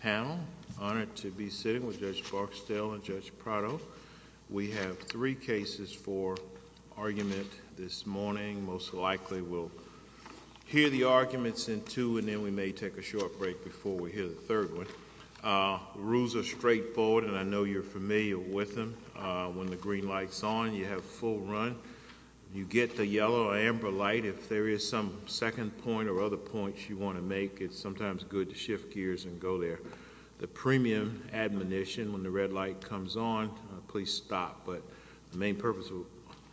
panel. Honored to be sitting with Judge Barksdale and Judge Prado. We have three cases for argument this morning. Most likely we'll hear the arguments in two and then we may take a short break before we hear the third one. Rules are straightforward and I know you're familiar with them. When the green light's on, you have a full run. You get the yellow or amber light if there is some second point or other points you want to make, it's sometimes good to shift gears and go there. The premium admonition when the red light comes on, please stop. But the main purpose of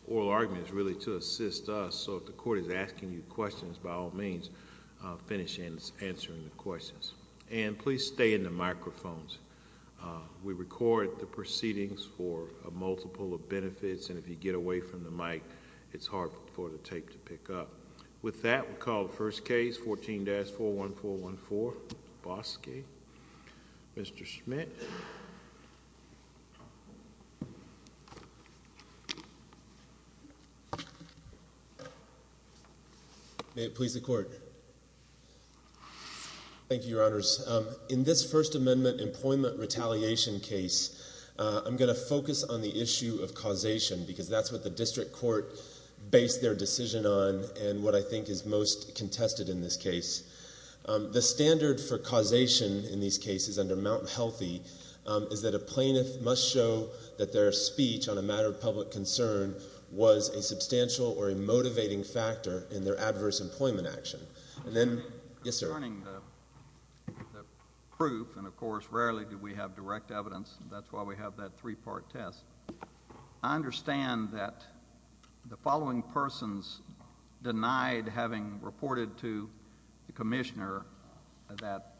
oral argument is really to assist us so if the court is asking you questions by all means, finish answering the questions. And please stay in the microphones. We record the proceedings for a multiple of benefits and if you get away from the mic, it's hard for the tape to pick up. With that, we'll call the first case, 14-41414, Bosque. Mr. Schmidt. May it please the court. Thank you, Your Honors. In this First Amendment employment retaliation case, I'm going to focus on the issue of causation because that's what the plaintiff makes their decision on and what I think is most contested in this case. The standard for causation in these cases under Mt. Healthy is that a plaintiff must show that their speech on a matter of public concern was a substantial or a motivating factor in their adverse employment action. And then, yes, sir. Concerning the proof, and of course rarely do we have direct evidence, that's why we have that three part test, I understand that the following persons denied having reported to the commissioner that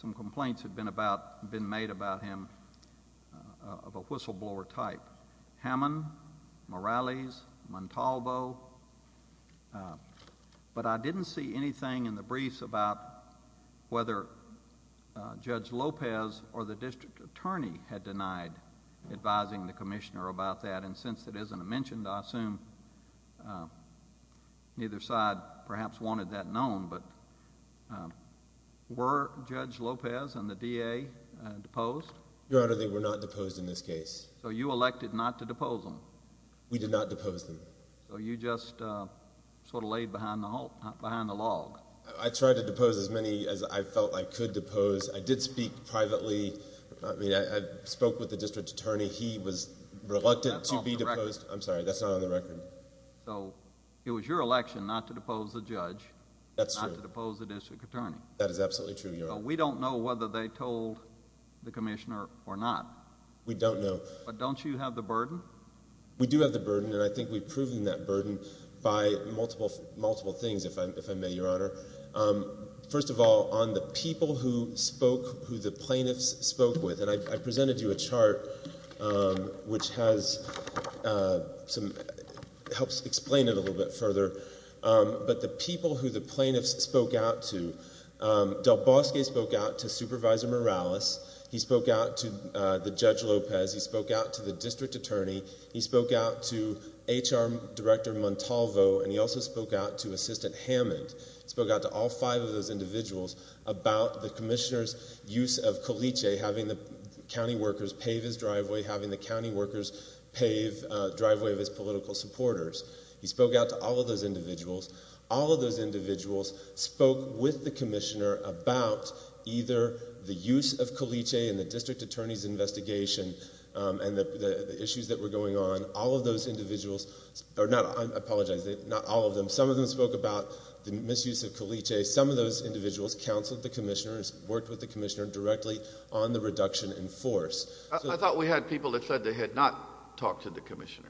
some complaints had been made about him of a whistleblower type, Hammond, Morales, Montalvo, but I didn't see anything in the briefs about whether Judge Lopez or the district attorney had denied advising the commissioner about that. And since it isn't mentioned, I assume neither side perhaps wanted that known, but were Judge Lopez and the DA deposed? Your Honor, they were not deposed in this case. So you elected not to depose them? We did not depose them. So you just sort of laid behind the log? I tried to depose as many as I felt I could depose. I did not depose the judge. I spoke with the district attorney. He was reluctant to be deposed. I'm sorry, that's not on the record. So it was your election not to depose the judge. That's true. Not to depose the district attorney. That is absolutely true, Your Honor. So we don't know whether they told the commissioner or not. We don't know. But don't you have the burden? We do have the burden, and I think we've proven that burden by multiple, multiple things, if I may, Your Honor. First of all, on the people who spoke, who the plaintiffs spoke with, and I presented you a chart which has some, helps explain it a little bit further. But the people who the plaintiffs spoke out to, Del Bosque spoke out to Supervisor Morales. He spoke out to the Judge Lopez. He spoke out to the district attorney. He spoke out to HR Director Montalvo, and he also spoke out to Assistant Hammond. He spoke out to all five of those individuals about the commissioner's use of Coliche, having the county workers pave his driveway, having the county workers pave the driveway of his political supporters. He spoke out to all of those individuals. All of those individuals spoke with the commissioner about either the use of Coliche in the district attorney's investigation and the issues that were going on. All of those individuals, or not, I apologize, not all of them. Some of them spoke about the misuse of Coliche. Some of those individuals counseled the commissioners, worked with the commissioner directly on the reduction in force. I thought we had people that said they had not talked to the commissioner.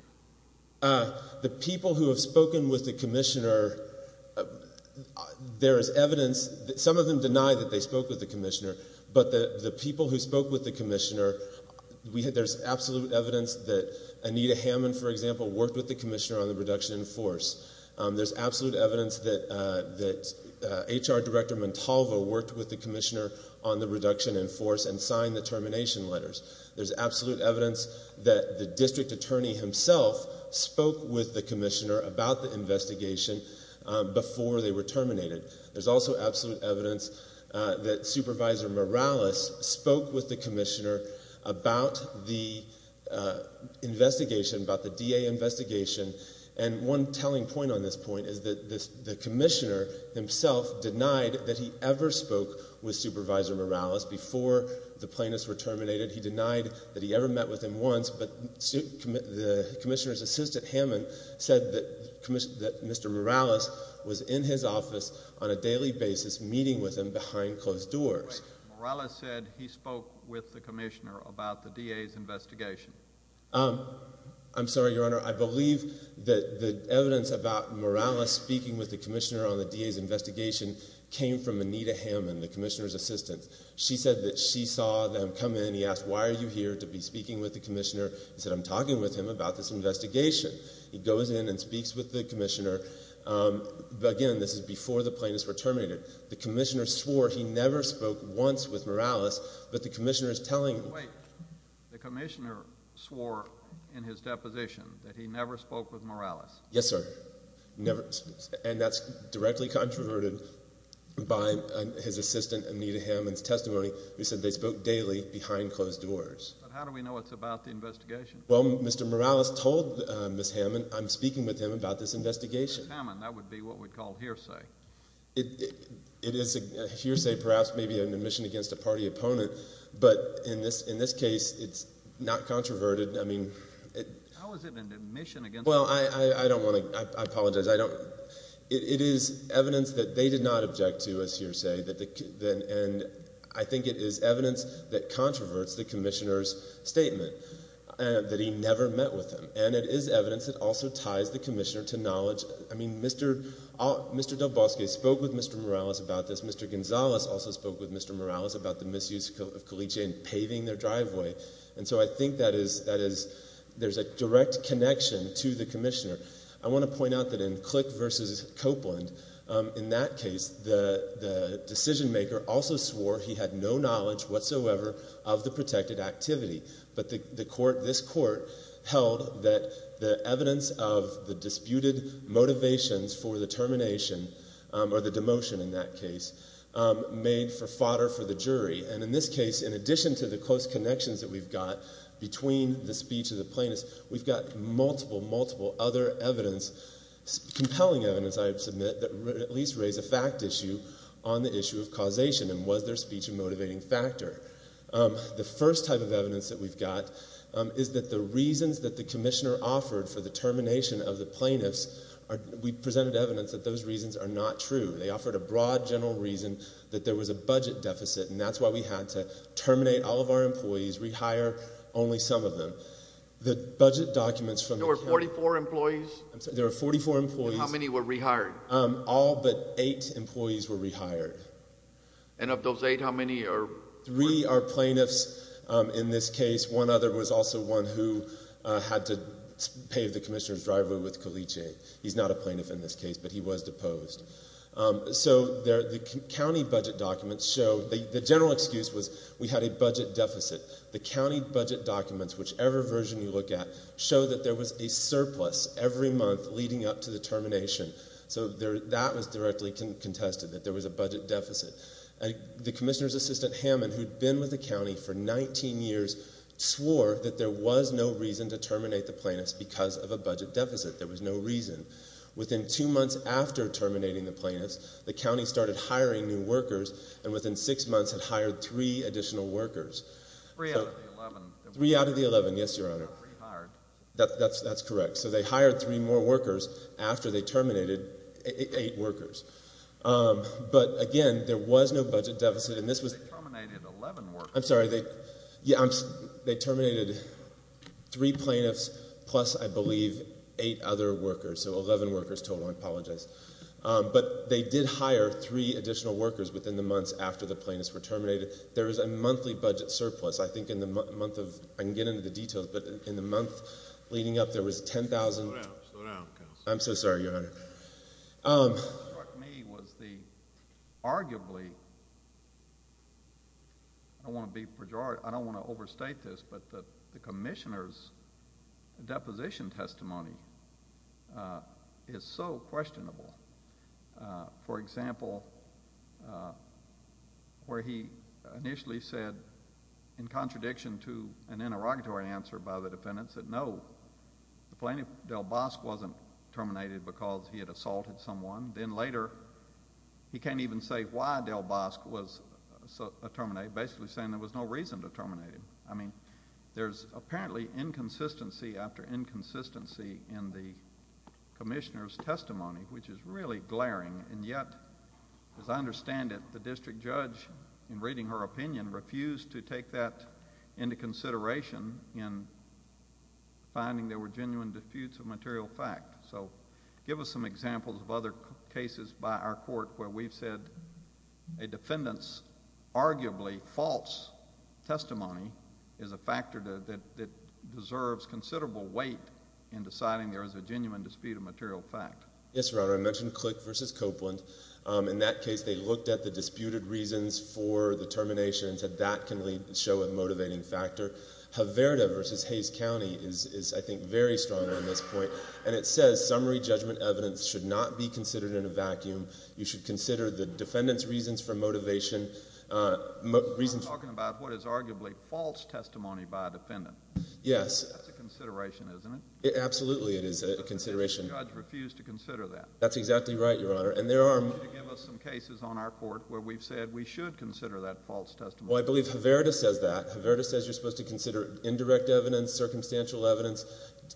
The people who have spoken with the commissioner, there is evidence, some of them deny that they spoke with the commissioner, but the people who spoke with the commissioner, there's absolute evidence that Anita Hammond, for example, worked with the commissioner on the reduction in force. There's absolute evidence that HR Director Montalvo worked with the commissioner on the reduction in force and signed the termination letters. There's absolute evidence that the district attorney himself spoke with the commissioner about the investigation before they were terminated. There's also absolute evidence that Supervisor Morales spoke with the commissioner about the investigation, about the DA investigation, and one telling point on this point is that the commissioner himself denied that he ever spoke with Supervisor Morales before the plaintiffs were terminated. He denied that he ever met with him once, but the commissioner's assistant, Hammond, said that Mr. Morales was in his office on a daily basis meeting with him behind closed doors. Wait. Morales said he spoke with the commissioner about the DA's investigation. I'm sorry, Your Honor. I believe that the evidence about Morales speaking with the commissioner on the DA's investigation came from Anita Hammond, the commissioner's assistant. She said that she saw them come in. He asked, why are you here to be speaking with the commissioner? He said, I'm talking with him about this investigation. He goes in and speaks with the commissioner. Again, this is before the plaintiffs were terminated. The commissioner swore he never spoke once with Morales, but the commissioner is telling him. Wait. The commissioner swore in his deposition that he never spoke with Morales. Yes, sir. Never. And that's directly controverted by his assistant, Anita Hammond's testimony. He said they spoke daily behind closed doors. But how do we know it's about the investigation? Well, Mr. Morales told Ms. Hammond, I'm speaking with him about this investigation. Ms. Hammond, that would be what we'd call hearsay. It is a hearsay, perhaps maybe an admission against a party opponent, but in this case, it's not controverted. I mean, how is it an admission against a party opponent? Well, I don't want to, I apologize. It is evidence that they did not object to, as hearsay, and I think it is evidence that controverts the commissioner's statement, that he never met with him. And it is evidence that also ties the commissioner to knowledge. I mean, Mr. Del Bosque spoke with Mr. Morales about this. Mr. Gonzales also spoke with Mr. Morales about the misuse of Colice and paving their driveway. And so I think that is, there's a direct connection to the commissioner. I want to point out that in Click versus Copeland, in that case, the decision maker also swore he had no knowledge whatsoever of the protected activity. But the court, this court, held that the evidence of the disputed motivations for the termination, or the demotion in that case, made for fodder for the jury. And in this case, in addition to the close connections that we've got between the speech of the plaintiffs, we've got multiple, multiple other evidence, compelling evidence, I submit, that at least raise a fact issue on the issue of causation and was their speech a motivating factor. The first type of evidence that we've got is that the reasons that the commissioner offered for the termination of the plaintiffs, we presented evidence that those reasons are not true. They offered a broad, general reason that there was a budget deficit, and that's why we had to terminate all of our employees, rehire only some of them. The budget documents from the case... There were 44 employees? I'm sorry, there were 44 employees. And how many were rehired? All but eight employees were rehired. And of those eight, how many are... Three are plaintiffs in this case. One other was also one who had to pave the commissioner's driveway with Colice. He's not a plaintiff in this case, but he was deposed. So the county budget documents show... The general excuse was we had a budget deficit. The county budget documents, whichever version you look at, show that there was a surplus every month leading up to the termination. So that was directly contested, that there was a budget deficit. The chairman, who'd been with the county for 19 years, swore that there was no reason to terminate the plaintiffs because of a budget deficit. There was no reason. Within two months after terminating the plaintiffs, the county started hiring new workers, and within six months had hired three additional workers. Three out of the 11. Three out of the 11, yes, Your Honor. So they rehired. That's correct. So they hired three more workers after they terminated eight workers. But again, there was no budget deficit, and this was... I'm sorry. They terminated three plaintiffs plus, I believe, eight other workers. So 11 workers total. I apologize. But they did hire three additional workers within the months after the plaintiffs were terminated. There was a monthly budget surplus. I think in the month of... I can get into the details, but in the month leading up, there was 10,000... Slow down. Slow down, counsel. I'm so sorry, Your Honor. What struck me was the arguably... I don't want to be pejorative. I don't want to overstate this, but the commissioner's deposition testimony is so questionable. For example, where he initially said, in contradiction to an interrogatory answer by the defendants, that no, the plaintiff Del Bosque wasn't terminated because he had assaulted someone. Then later, he can't even say why Del Bosque was terminated, basically saying there was no reason to terminate him. I mean, there's apparently inconsistency after inconsistency in the commissioner's testimony, which is really glaring. And yet, as I understand it, the district judge, in reading her opinion, refused to take that into consideration in finding there were genuine disputes of material fact. So give us some examples of other cases by our court where we've said a defendant's arguably false testimony is a factor that deserves considerable weight in deciding there is a genuine dispute of material fact. Yes, Your Honor. I mentioned Click v. Copeland. In that case, they looked at the disputed reasons for the termination and said that can show a motivating factor. Haverda v. Hayes County is, I think, very strong on this point. And it says, summary judgment evidence should not be considered in a vacuum. You should consider the defendant's reasons for motivation... I'm talking about what is arguably false testimony by a defendant. Yes. That's a consideration, isn't it? Absolutely, it is a consideration. The judge refused to consider that. That's exactly right, Your Honor. And there are... we've said we should consider that false testimony. Well, I believe Haverda says that. Haverda says you're supposed to consider indirect evidence, circumstantial evidence,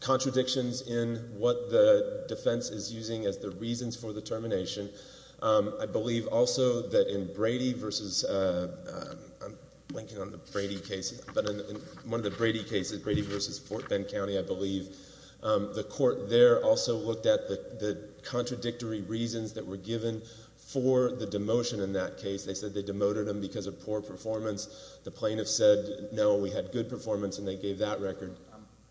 contradictions in what the defense is using as the reasons for the termination. I believe also that in Brady v... I'm blanking on the Brady case, but in one of the Brady cases, Brady v. Fort Bend County, I believe, the court there also looked at the contradictory reasons that were given for the demotion in that case. They said they demoted him because of poor performance. The plaintiff said, no, we had good performance, and they gave that record.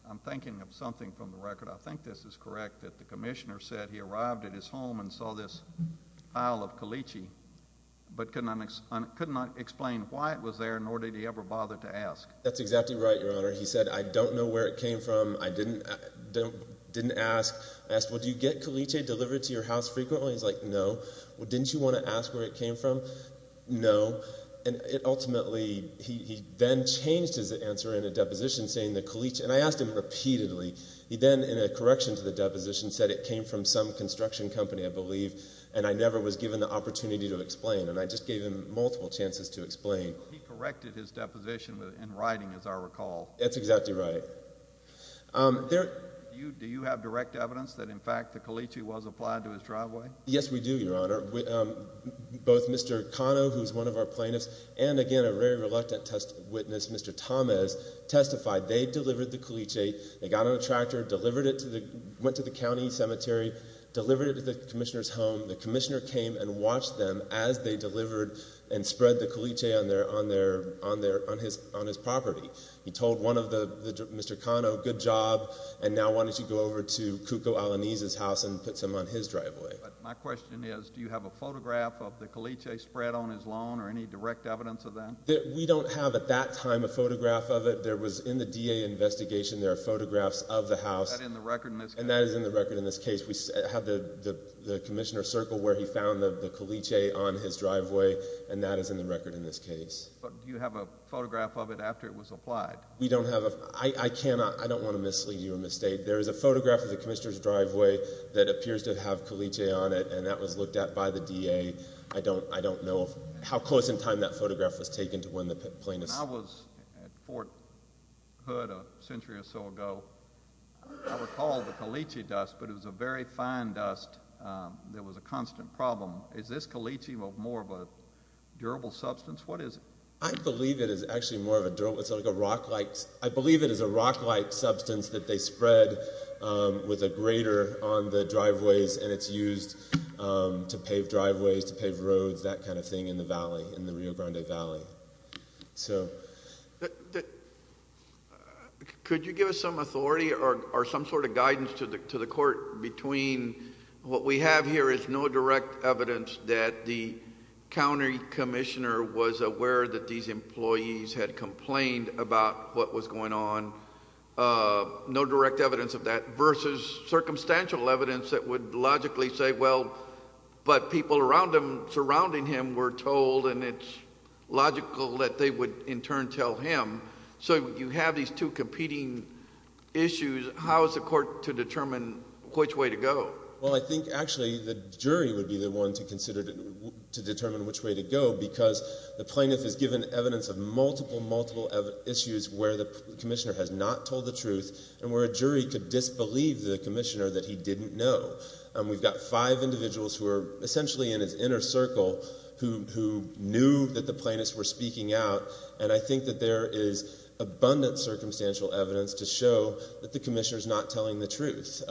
I'm thinking of something from the record. I think this is correct, that the commissioner said he arrived at his home and saw this Isle of Caliche, but could not explain why it was there, nor did he ever bother to ask. That's exactly right, Your Honor. He said, I don't know where it came from. I didn't ask. I asked, well, do you get Caliche delivered to your house frequently? He's like, no. Well, didn't you want to ask where it came from? No. And ultimately, he then changed his answer in a deposition saying that Caliche... and I asked him repeatedly. He then, in a correction to the deposition, said it came from some construction company, I believe, and I never was given the opportunity to explain, and I just gave him multiple chances to explain. He corrected his deposition in writing, as I recall. That's exactly right. Do you have direct evidence that, in fact, the Caliche was applied to his driveway? Yes, we do, Your Honor. Both Mr. Cano, who is one of our plaintiffs, and, again, a very reluctant witness, Mr. Tomes, testified they delivered the Caliche. They got on a tractor, went to the county cemetery, delivered it to the commissioner's home. The commissioner came and watched them as they delivered and spread the Caliche on his property. He told one of the... Mr. Cano, good job, and now why don't you go over to Cuco Alaniz's house and put some on his driveway? My question is, do you have a photograph of the Caliche spread on his lawn or any direct evidence of that? We don't have, at that time, a photograph of it. There was, in the DA investigation, there are photographs of the house... Is that in the record in this case? And that is in the record in this case. We have the commissioner's circle where he found the Caliche on his driveway, and that is in the record in this case. But do you have a photograph of it after it was applied? I don't want to mislead you or mistake. There is a photograph of the commissioner's driveway that appears to have Caliche on it, and that was looked at by the DA. I don't know how close in time that photograph was taken to when the plane was... When I was at Fort Hood a century or so ago, I recall the Caliche dust, but it was a very fine dust that was a constant problem. Is this Caliche more of a durable substance? What is it? I believe it is actually more of a durable... It's like a rock-like... I believe it is a rock-like substance that they spread with a grater on the driveways, and it's used to pave driveways, to pave roads, that kind of thing, in the valley, in the Rio Grande Valley. Could you give us some authority or some sort of guidance to the court between what we have here is no direct evidence that the county commissioner was aware that these employees had complained about what was going on, no direct evidence of that, versus circumstantial evidence that would logically say, well, but people around him, surrounding him, were told, and it's logical that they would, in turn, tell him. So you have these two competing issues. How is the court to determine which way to go? Well, I think, actually, the jury would be the one to consider, to determine which way to go, because the plaintiff is given evidence of multiple, multiple issues where the commissioner has not told the truth, and where a jury could disbelieve the commissioner that he didn't know. We've got five individuals who are essentially in his inner circle who knew that the plaintiffs were speaking out, and I think that there is abundant circumstantial evidence to show that the commissioner is not telling the truth.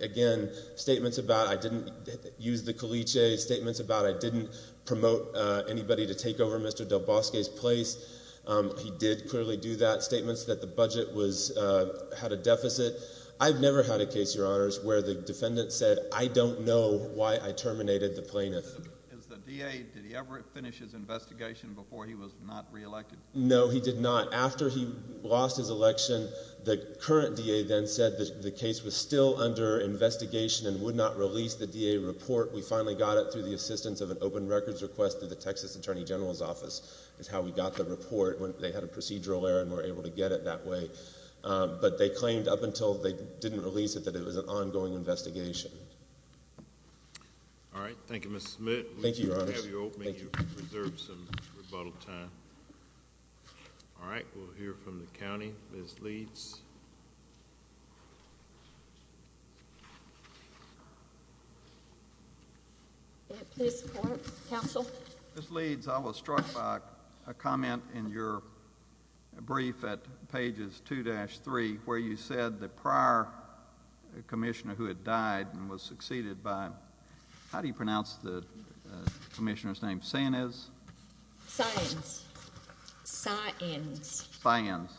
Again, statements about, I didn't use the caliche, statements about I didn't promote anybody to take over Mr. Del Bosque's place, he did clearly do that, statements that the budget had a deficit. I've never had a case, Your Honors, where the defendant said, I don't know why I terminated the plaintiff. Is the DA, did he ever finish his investigation before he was not reelected? No, he did not. After he lost his election, the current DA then said that the case was still under investigation and would not release the DA report. We finally got it through the assistance of an open records request through the Texas Attorney General's office is how we got the report. They had a procedural error and were able to get it that way, but they claimed up until they didn't release it, that it was an ongoing investigation. All right. Thank you, Mr. Smith. Thank you, Your Honors. We'll have you open and reserve some rebuttal time. All right. We'll hear from the county. Ms. Leeds. May it please the court. Counsel. Ms. Leeds, I was struck by a comment in your brief at pages 2-3 where you said the prior commissioner who had died and was succeeded by, how do you pronounce the commissioner's name, Sáenz? Sáenz. Sáenz. Sáenz.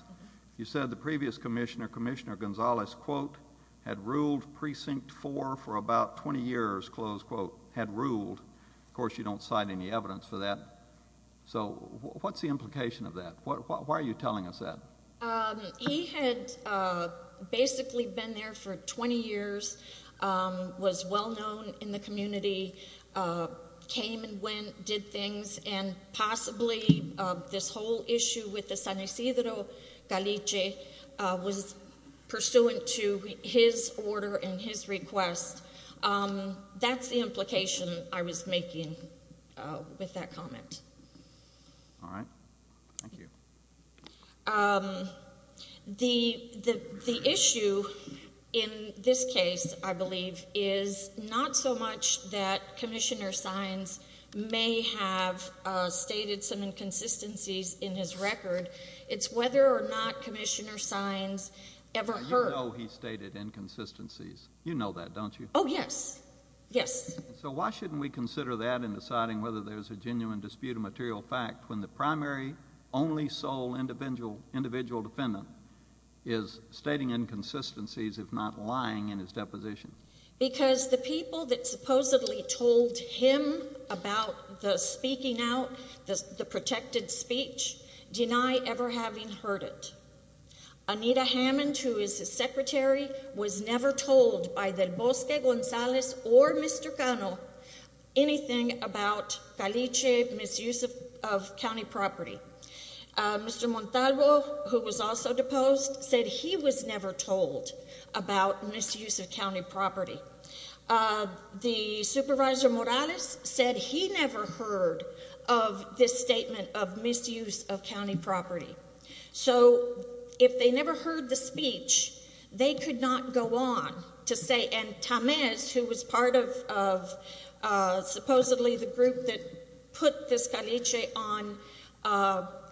You said the previous commissioner, Commissioner Gonzalez, quote, had ruled precinct four for about 20 years, close quote, had ruled. Of course, you don't cite any evidence for that. So what's the implication of that? Why are you telling us that? He had basically been there for 20 years, was well-known in the community, came and went, did things, and possibly this whole issue with the San Ysidro Caliche was pursuant to his order and his request. That's the implication I was making with that comment. All right. Thank you. The issue in this case, I believe, is not so much that Commissioner Sáenz may have stated some inconsistencies in his record. It's whether or not Commissioner Sáenz ever heard. You know he stated inconsistencies. You know that, don't you? Oh, yes. Yes. So why shouldn't we consider that in deciding whether there's a genuine dispute of material fact when the primary, only sole individual defendant is stating inconsistencies, if not lying in his deposition? Because the people that supposedly told him about the speaking out, the protected speech, deny ever having heard it. Anita Hammond, who is his secretary, was never told by Del Morales about misuse of county property. Mr. Montalvo, who was also deposed, said he was never told about misuse of county property. The Supervisor Morales said he never heard of this statement of misuse of county property. So if they never heard the speech, they could not go on to say, and Tamez, who was part of supposedly the group that put this caliche on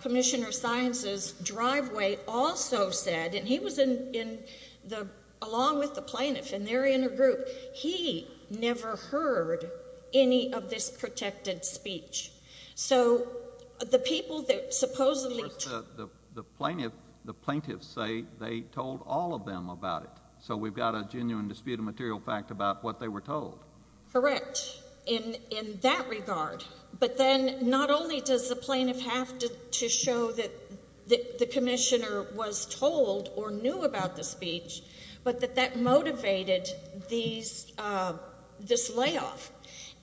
Commissioner Sáenz's driveway, also said, and he was in the, along with the plaintiff and their inner group, he never heard any of this protected speech. So the people that supposedly The plaintiff, the plaintiffs say they told all of them about it. So we've got a genuine dispute of material fact about what they were told. Correct. In that regard. But then not only does the plaintiff have to show that the Commissioner was told or knew about the speech, but that that motivated these, this layoff.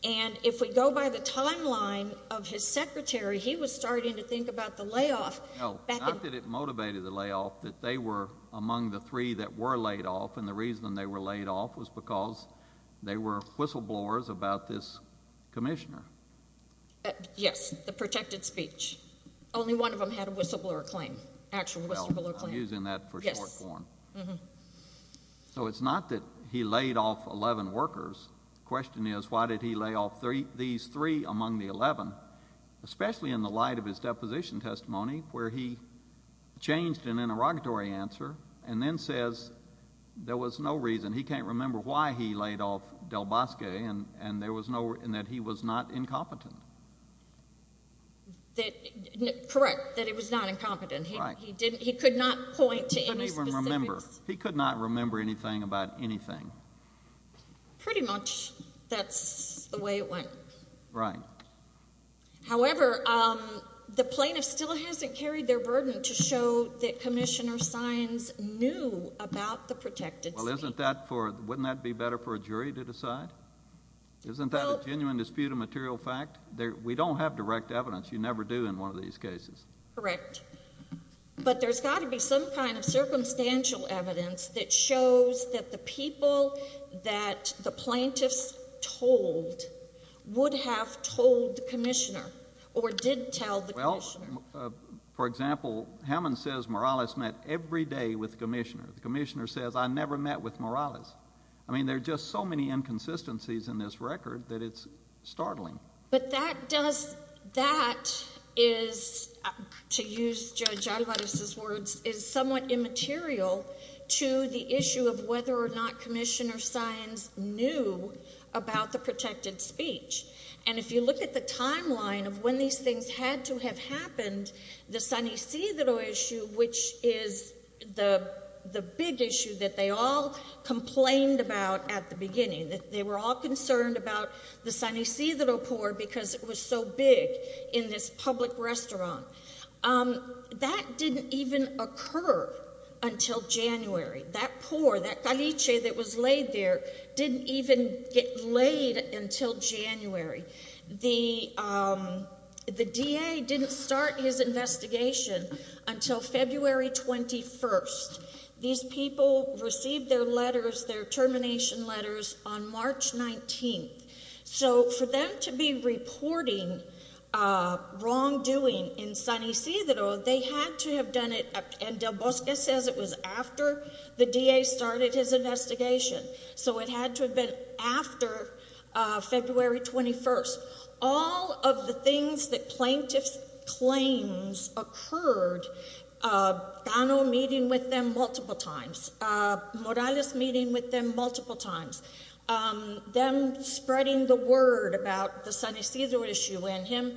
And if we go by the timeline of his secretary, he was starting to think about the layoff. No, not that it motivated the layoff, that they were among the three that were laid off. And the reason they were laid off was because they were whistleblowers about this Commissioner. Yes, the protected speech. Only one of them had a whistleblower claim, actual whistleblower claim. Well, I'm using that for short form. Yes. So it's not that he laid off 11 workers. The question is, why did he lay off these three among the 11? Especially in the light of his deposition testimony, where he changed an interrogatory answer and then says there was no reason, he can't remember why he laid off Del Bosque and there was no, and that he was not incompetent. That, correct, that he was not incompetent. Right. He didn't, he could not point to any specifics. He couldn't even remember. He could not remember anything about anything. Pretty much, that's the way it went. Right. However, the plaintiff still hasn't carried their burden to show that Commissioner Sines knew about the protected speech. Well, isn't that for, wouldn't that be better for a jury to decide? Well. Isn't that a genuine dispute of material fact? We don't have direct evidence. You never do in one of these cases. Correct. But there's got to be some kind of circumstantial evidence that shows that the people that the plaintiffs told would have told the Commissioner or did tell the Commissioner. Well, for example, Hammond says Morales met every day with the Commissioner. The Commissioner says, I never met with Morales. I mean, there are just so many inconsistencies in this record that it's startling. But that does, that is, to use Judge Alvarez's words, is somewhat immaterial to the issue of whether or not Commissioner Sines knew about the protected speech. And if you look at the timeline of when these things had to have happened, the San Ysidro issue, which is the big issue that they all complained about at the beginning, that they were all concerned about the San Ysidro poor because it was so big in this public restaurant. That didn't even occur until January. That poor, that caliche that was laid there, didn't even get laid until January. The DA didn't start his investigation until February 21st. These people received their letters, their termination letters, on March 19th. So for them to be reporting wrongdoing in San Ysidro, they had to have done it, and Del Bosque says it was after the DA started his investigation. So it had to have been after February 21st. So all of the things that plaintiffs' claims occurred, Cano meeting with them multiple times, Morales meeting with them multiple times, them spreading the word about the San Ysidro issue and him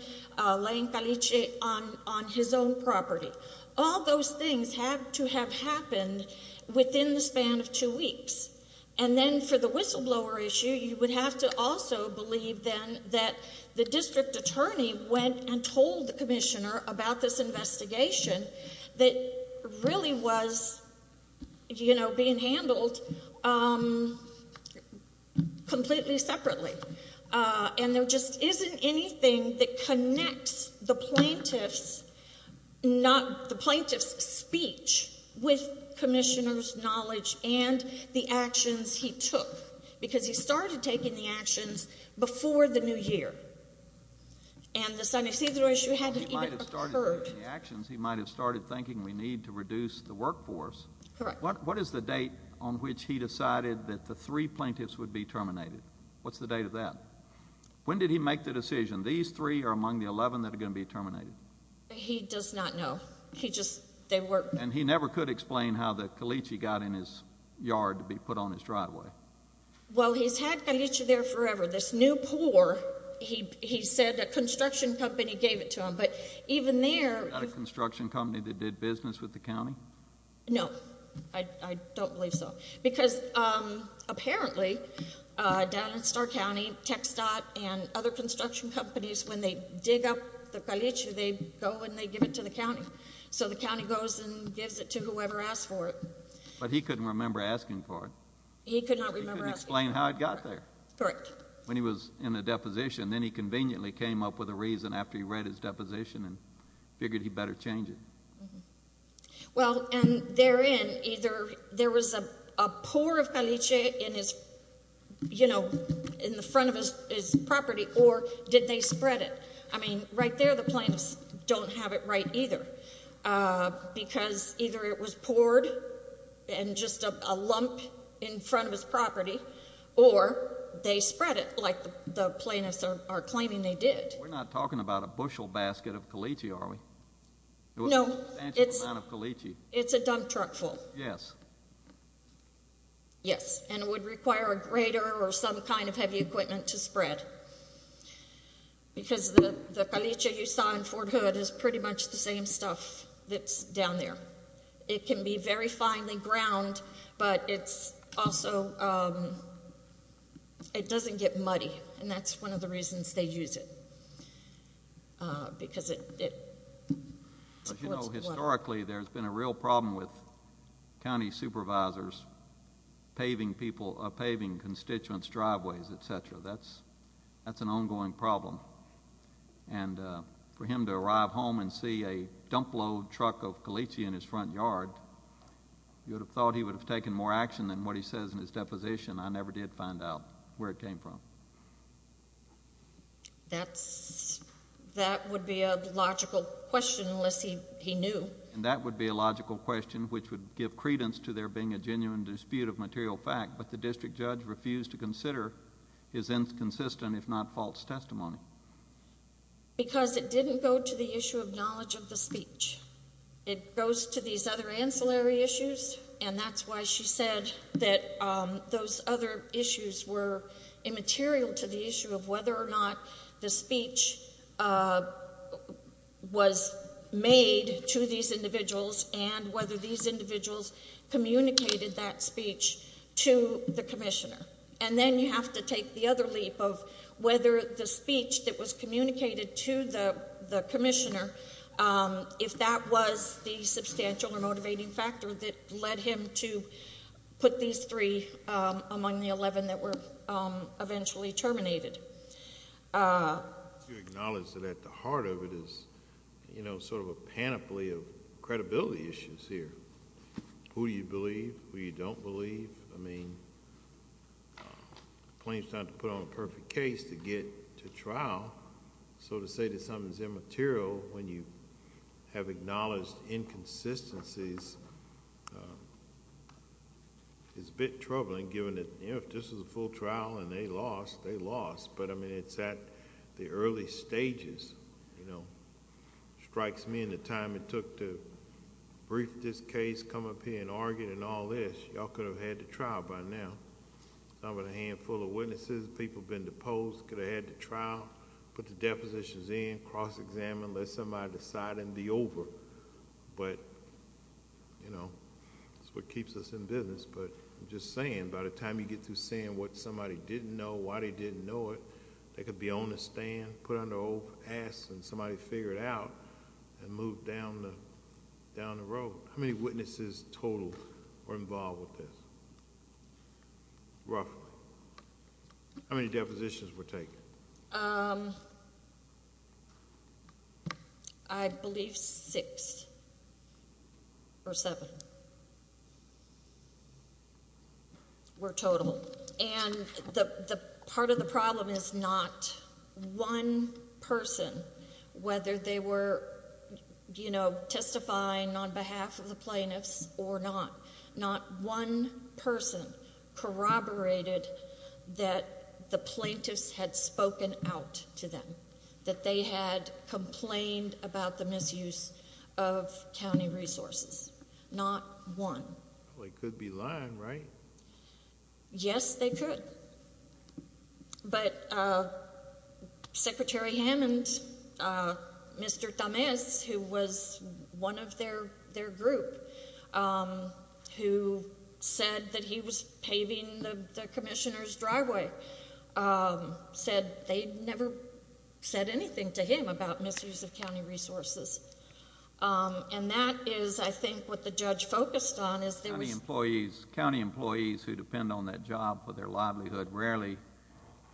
laying caliche on his own property, all those things had to have happened within the span of two weeks. And then for the whistleblower issue, you would have to also believe then that the district attorney went and told the commissioner about this investigation that really was, you know, being handled completely separately. And there just isn't anything that connects the plaintiff's speech with commissioner's knowledge and the actions before the new year. And the San Ysidro issue hadn't even occurred. He might have started thinking we need to reduce the workforce. Correct. What is the date on which he decided that the three plaintiffs would be terminated? What's the date of that? When did he make the decision, these three are among the 11 that are going to be terminated? He does not know. He just they were And he never could explain how the caliche got in his yard to be put on his driveway. Well, he's had caliche there forever. This new poor, he said a construction company gave it to him. But even there Not a construction company that did business with the county? No, I don't believe so. Because apparently, down in Starr County, TxDOT and other construction companies, when they dig up the caliche, they go and they give it to the county. So the county goes and gives it to whoever asked for it. But he couldn't remember asking for it. He could not remember asking for it. He couldn't explain how it got there. Correct. When he was in a deposition, then he conveniently came up with a reason after he read his deposition and figured he better change it. Well, and therein, either there was a pour of caliche in his, you know, in the front of his property, or did they spread it? I mean, right there, the plaintiffs don't have it right either. Because either it was poured in just a lump in front of his property, or they spread it like the plaintiffs are claiming they did. We're not talking about a bushel basket of caliche, are we? No. A substantial amount of caliche. It's a dump truck full. Yes. Yes. And it would require a grater or some kind of heavy equipment to spread. Because the caliche you saw in Fort Hood is pretty much the same stuff that's down there. It can be very finely ground, but it's also, it doesn't get muddy. And that's one of the reasons they use it. Because it supports water. But, you know, historically, there's been a real problem with county supervisors paving people, paving constituents' driveways, et cetera. That's an ongoing problem. And for him to arrive home and see a dump load truck of caliche in his front yard, you would have thought he would have taken more action than what he says in his deposition. I never did find out where it came from. That would be a logical question, unless he knew. And that would be a logical question, which would give credence to there being a genuine dispute of material fact. But the district judge refused to consider his inconsistent, if not false, testimony. Because it didn't go to the issue of knowledge of the speech. It goes to these other ancillary issues. And that's why she said that those other issues were immaterial to the issue of whether or not the speech was made to these individuals and whether these individuals communicated that speech to the commissioner. And then you have to take the other leap of whether the speech that was communicated to the commissioner, if that was the substantial or motivating factor that led him to put these three among the 11 that were eventually terminated. I want to acknowledge that at the heart of it is a panoply of credibility issues here. Who do you believe? Who you don't believe? Plaintiffs don't have to put on a perfect case to get to trial, so to say that something's immaterial when you have acknowledged inconsistencies is a bit troubling given that if this was a full trial and they lost, they lost. But, I mean, it's at the early stages. It strikes me in the time it took to brief this case, come up here and argue and all this. Y'all could have had the trial by now. Not with a handful of witnesses, people been deposed, could have had the trial, put the depositions in, cross-examine, let somebody decide and be over. But, you know, that's what keeps us in business. But I'm just saying, by the time you get through saying what somebody didn't know, why they didn't know it, they could be on the stand, put on their old ass and somebody figure it out and move down the road. How many witnesses total were involved with this, roughly? How many depositions were taken? I believe six or seven were total. And part of the problem is not one person, whether they were, you know, testifying on behalf of the plaintiffs or not. Not one person corroborated that the plaintiffs had spoken out to them, that they had complained about the misuse of county resources. Not one. They could be lying, right? Yes, they could. But Secretary Hammond, Mr. Tamez, who was one of their group, who said that he was paving the commissioner's driveway, said they'd never said anything to him about misuse of county resources. And that is, I think, what the judge focused on is there was... County employees who depend on that job for their livelihood rarely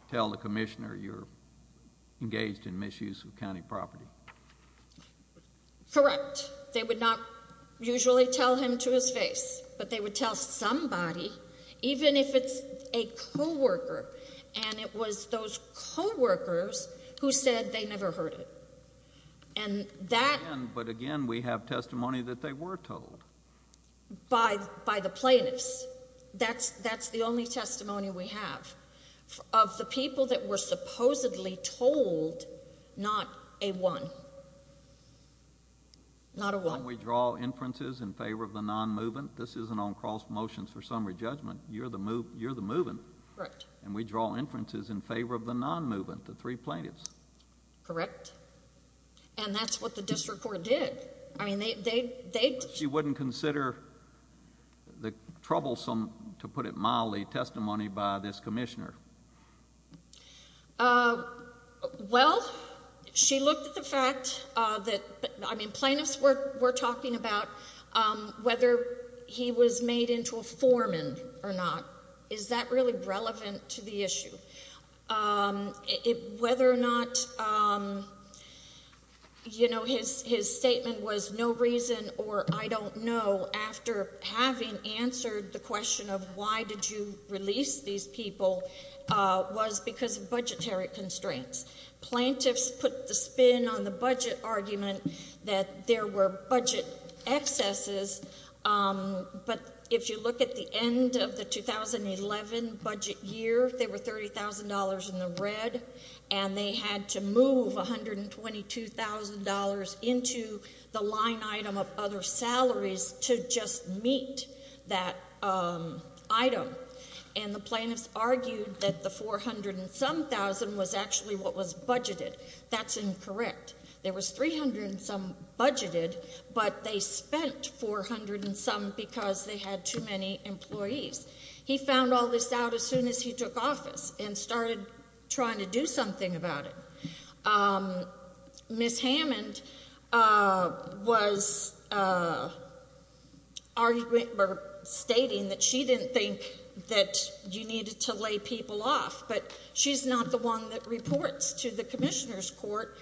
tell the commissioner you're engaged in misuse of county property. Correct. They would not usually tell him to his face. But they would tell somebody, even if it's a co-worker, and it was those co-workers who said they never heard it. And that... But again, we have testimony that they were told. By the plaintiffs. That's the only testimony we have. Of the people that were supposedly told, not a one. Not a one. When we draw inferences in favor of the non-movement, this isn't on cross motions for summary judgment. You're the movement. Correct. And we draw inferences in favor of the non-movement, the three plaintiffs. Correct. And that's what the district court did. I mean, they... You wouldn't consider the troublesome, to put it mildly, testimony by this commissioner. Well, she looked at the fact that... I mean, plaintiffs were talking about whether he was made into a foreman or not. Is that really relevant to the issue? Whether or not, you know, his statement was, no reason or I don't know, after having answered the question of why did you release these people, was because of budgetary constraints. Plaintiffs put the spin on the budget argument that there were budget excesses, but if you look at the end of the 2011 budget year, there were $30,000 in the red, and they had to move $122,000 into the line item of other salaries to just meet that item. And the plaintiffs argued that the 400 and some thousand was actually what was budgeted. That's incorrect. There was 300 and some budgeted, but they spent 400 and some because they had too many employees. He found all this out as soon as he took office and started trying to do something about it. Ms. Hammond was arguing or stating that she didn't think that you needed to lay people off, but she's not the one that reports to the commissioner's court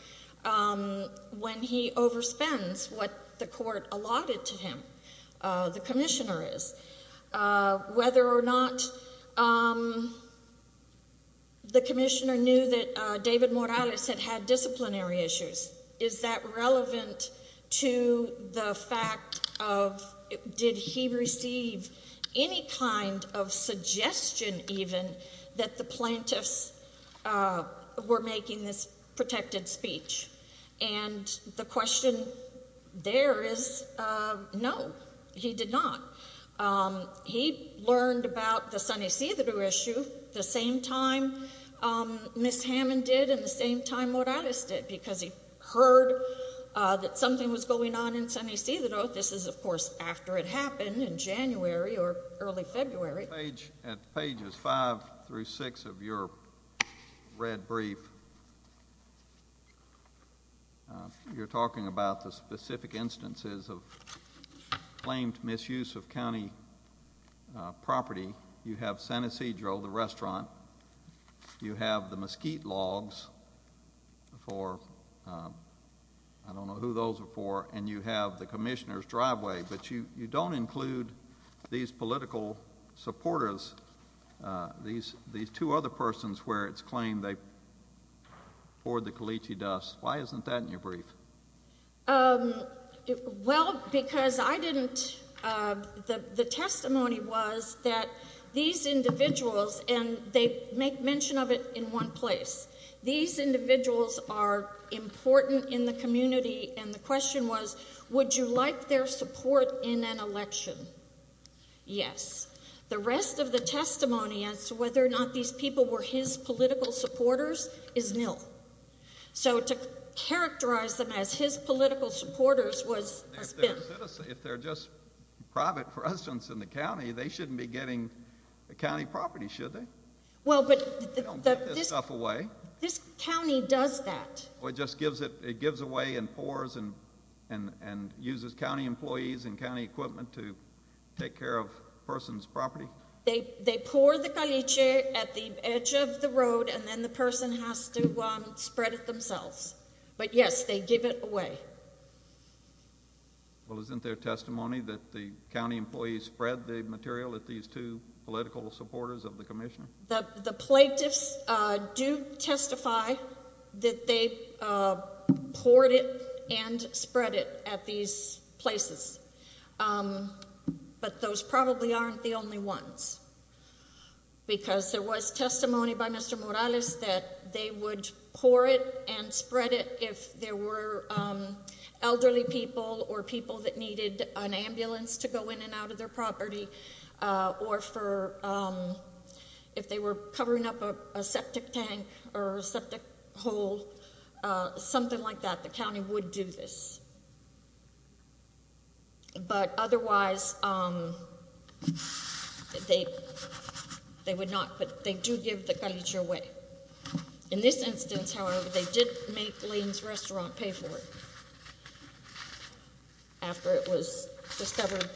when he overspends what the court allotted to him, the commissioner is. Whether or not the commissioner knew that David Morales had had disciplinary issues, is that relevant to the fact of did he receive any kind of suggestion even that the plaintiffs were making this protected speech? And the question there is no, he did not. He learned about the Sunny Sea that were issued the same time Ms. Hammond did and the same time Morales did because he heard that something was going on in Sunny Sea. This is, of course, after it happened in January or early February. At pages 5 through 6 of your red brief, you're talking about the specific instances of claimed you have the mesquite logs for, I don't know who those are for, and you have the commissioner's driveway, but you don't include these political supporters, these two other persons where it's claimed they poured the caliche dust. Why isn't that in your brief? Well, because I didn't, the testimony was that these individuals, and they make mention of it in one place, these individuals are important in the community and the question was would you like their support in an election? Yes. The rest of the testimony as to whether or not these people were his political supporters is nil. So to characterize them as his political supporters was a spin. If they're just private residents in the county, they shouldn't be getting the county property, should they? They don't give this stuff away. This county does that. It just gives it, it gives away and pours and uses county employees and county employees at the edge of the road and then the person has to spread it themselves. But yes, they give it away. Well, isn't there testimony that the county employees spread the material at these two political supporters of the commissioner? The plaintiffs do testify that they poured it and spread it at these places, but those probably aren't the only ones. Because there was testimony by Mr. Morales that they would pour it and spread it if there were elderly people or people that needed an ambulance to go in and out of their property or for, if they were covering up a septic tank or a septic hole, something like that, the county would do this. But otherwise, they would not, but they do give the culture away. In this instance, however, they did make Lane's Restaurant pay for it after it was discovered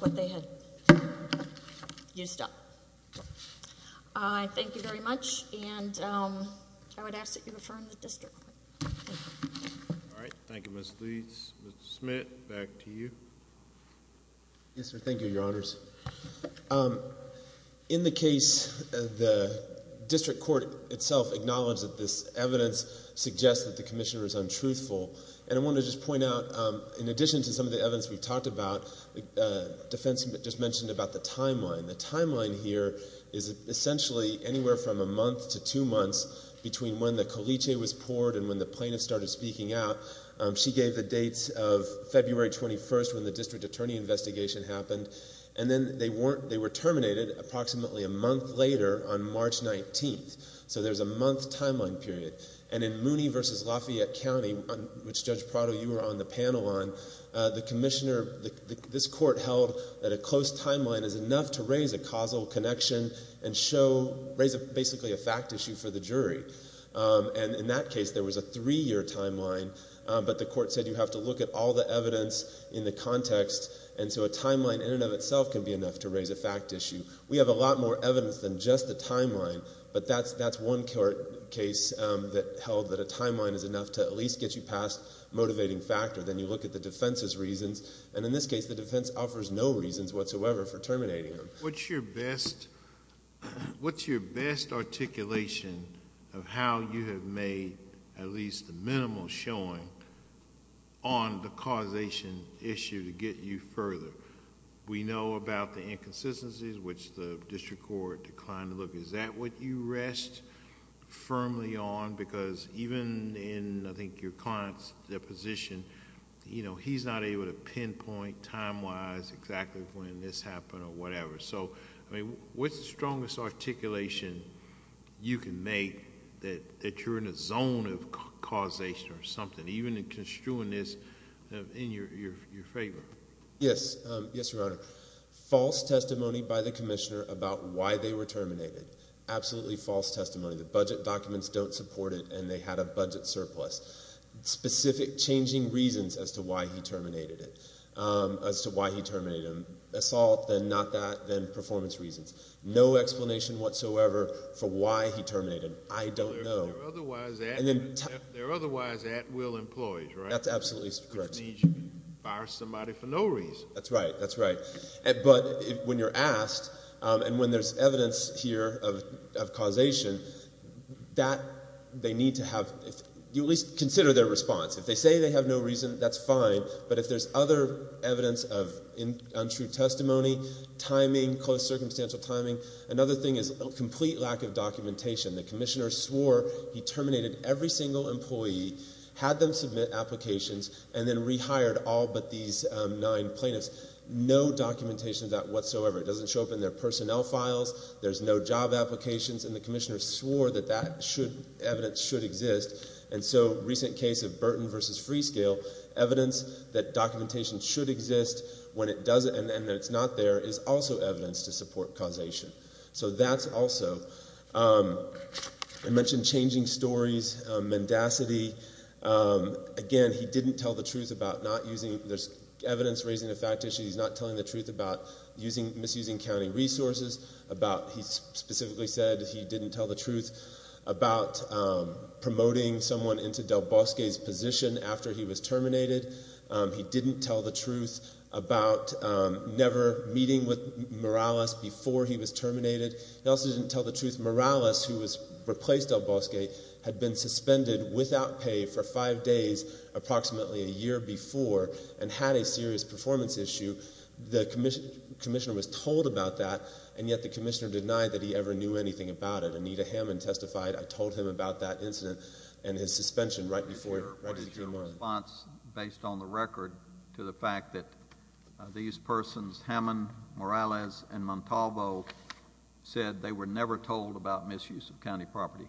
what they had used up. Thank you very much and I would ask that you refer to the district court. All right. Thank you, Ms. Leeds. Mr. Smith, back to you. Yes, sir. Thank you, your honors. In the case, the district court itself acknowledged that this evidence suggests that the commissioner is untruthful and I want to just point out in addition to some of the evidence we've talked about, defense just mentioned about the timeline. The timeline here is essentially anywhere from a month to two months between when the Coliche was poured and when the plaintiffs started speaking out. She gave the dates of February 21st when the district attorney investigation happened and then they were terminated approximately a month later on March 19th. So there's a month timeline period. And in Mooney v. Lafayette County, which Judge Prado, you were on the panel on, the commissioner, this court held that a close timeline is enough to raise a causal connection and show, raise basically a fact issue for the jury. And in that case, there was a three-year timeline, but the court said you have to look at all the evidence in the context and so a timeline in and of itself can be enough to raise a fact issue. We have a lot more evidence than just the timeline, but that's one court case that held that a timeline is enough to at least get you past motivating factor. Then you look at the defense's reasons and in this case, the defense offers no reasons whatsoever for terminating him. What's your best articulation of how you have made at least a minimal showing on the causation issue to get you further? We know about the inconsistencies, which the district court declined to look. Is that what you rest firmly on? Because even in, I think, your client's position, he's not able to pinpoint time-wise exactly when this happened or whatever. So, I mean, what's the strongest articulation you can make that you're in a zone of causation or something, even in construing this in your favor? Yes. Yes, Your Honor. False testimony by the commissioner about why they were terminated. Absolutely false testimony. The budget documents don't support it and they had a budget surplus. Specific changing reasons as to why he terminated him. Assault, then not that, then performance reasons. No explanation whatsoever for why he terminated him. I don't know. There are otherwise at-will employees, right? That's absolutely correct. Which means you can fire somebody for no reason. That's right. That's right. But when you're asked, and when there's evidence here of causation, that they need to have, at least consider their response. If they say they have no reason, that's fine. But if there's other evidence of untrue testimony, timing, close circumstantial timing, another thing is a complete lack of documentation. The commissioner swore he terminated every single employee, had them submit applications, and then rehired all but these nine plaintiffs. No documentation of that whatsoever. It doesn't show up in their personnel files. There's no job applications. And the commissioner swore that that evidence should exist. And so, recent case of Burton v. Freescale, evidence that documentation should exist when it doesn't and that it's not there is also evidence to support causation. So that's also. I mentioned changing stories, mendacity. Again, he didn't tell the truth about not using. There's evidence raising a fact issue. He's not telling the truth about misusing county resources. He specifically said he didn't tell the truth about promoting someone into Del Bosque's position after he was terminated. He didn't tell the truth about never meeting with Morales before he was terminated. He also didn't tell the truth Morales, who replaced Del Bosque, had been suspended without pay for five days, approximately a year before, and had a serious performance issue. The commissioner was told about that, and yet the commissioner denied that he ever knew anything about it. Anita Hammond testified, I told him about that incident and his suspension right before he was terminated. What is your response, based on the record, to the fact that these persons, Hammond, Morales, and Montalvo, said they were never told about misuse of county property?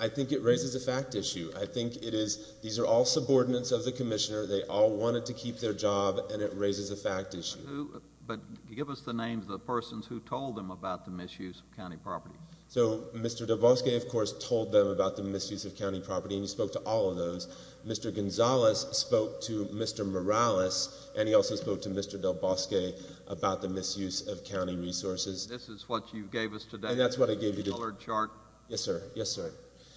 I think it raises a fact issue. I think it is, these are all subordinates of the commissioner. They all wanted to keep their job, and it raises a fact issue. But give us the names of the persons who told them about the misuse of county property. So, Mr. Del Bosque, of course, told them about the misuse of county property, and he spoke to all of those. Mr. Gonzalez spoke to Mr. Morales, and he also spoke to Mr. Del Bosque about the misuse of county resources. This is what you gave us today. And that's what I gave you. The colored chart. Yes, sir. Yes, sir.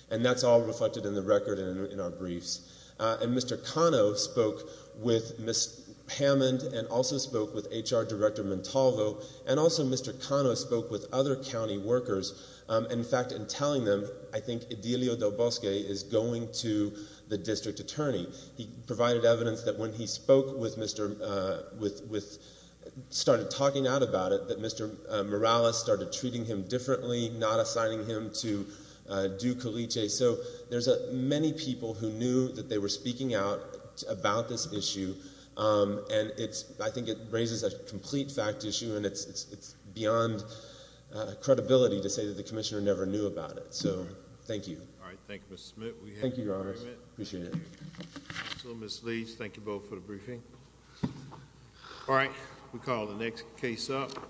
And that's all reflected in the record and in our briefs. And Mr. Cano spoke with Ms. Hammond, and also spoke with HR Director Montalvo, and also Mr. Cano spoke with other county workers. In fact, in telling them, I think Edilio Del Bosque is going to the district attorney. He provided evidence that when he spoke with Mr., started talking out about it, that Mr. Morales started treating him differently, not assigning him to do colice. So, there's many people who knew that they were speaking out about this issue, and I think it raises a complete fact issue, and it's beyond credibility to say that the commissioner never knew about it. So, thank you. All right. Thank you, Mr. Smith. Thank you, Your Honors. Appreciate it. Thank you. So, Ms. Leeds, thank you both for the briefing. All right. We'll call the next case up.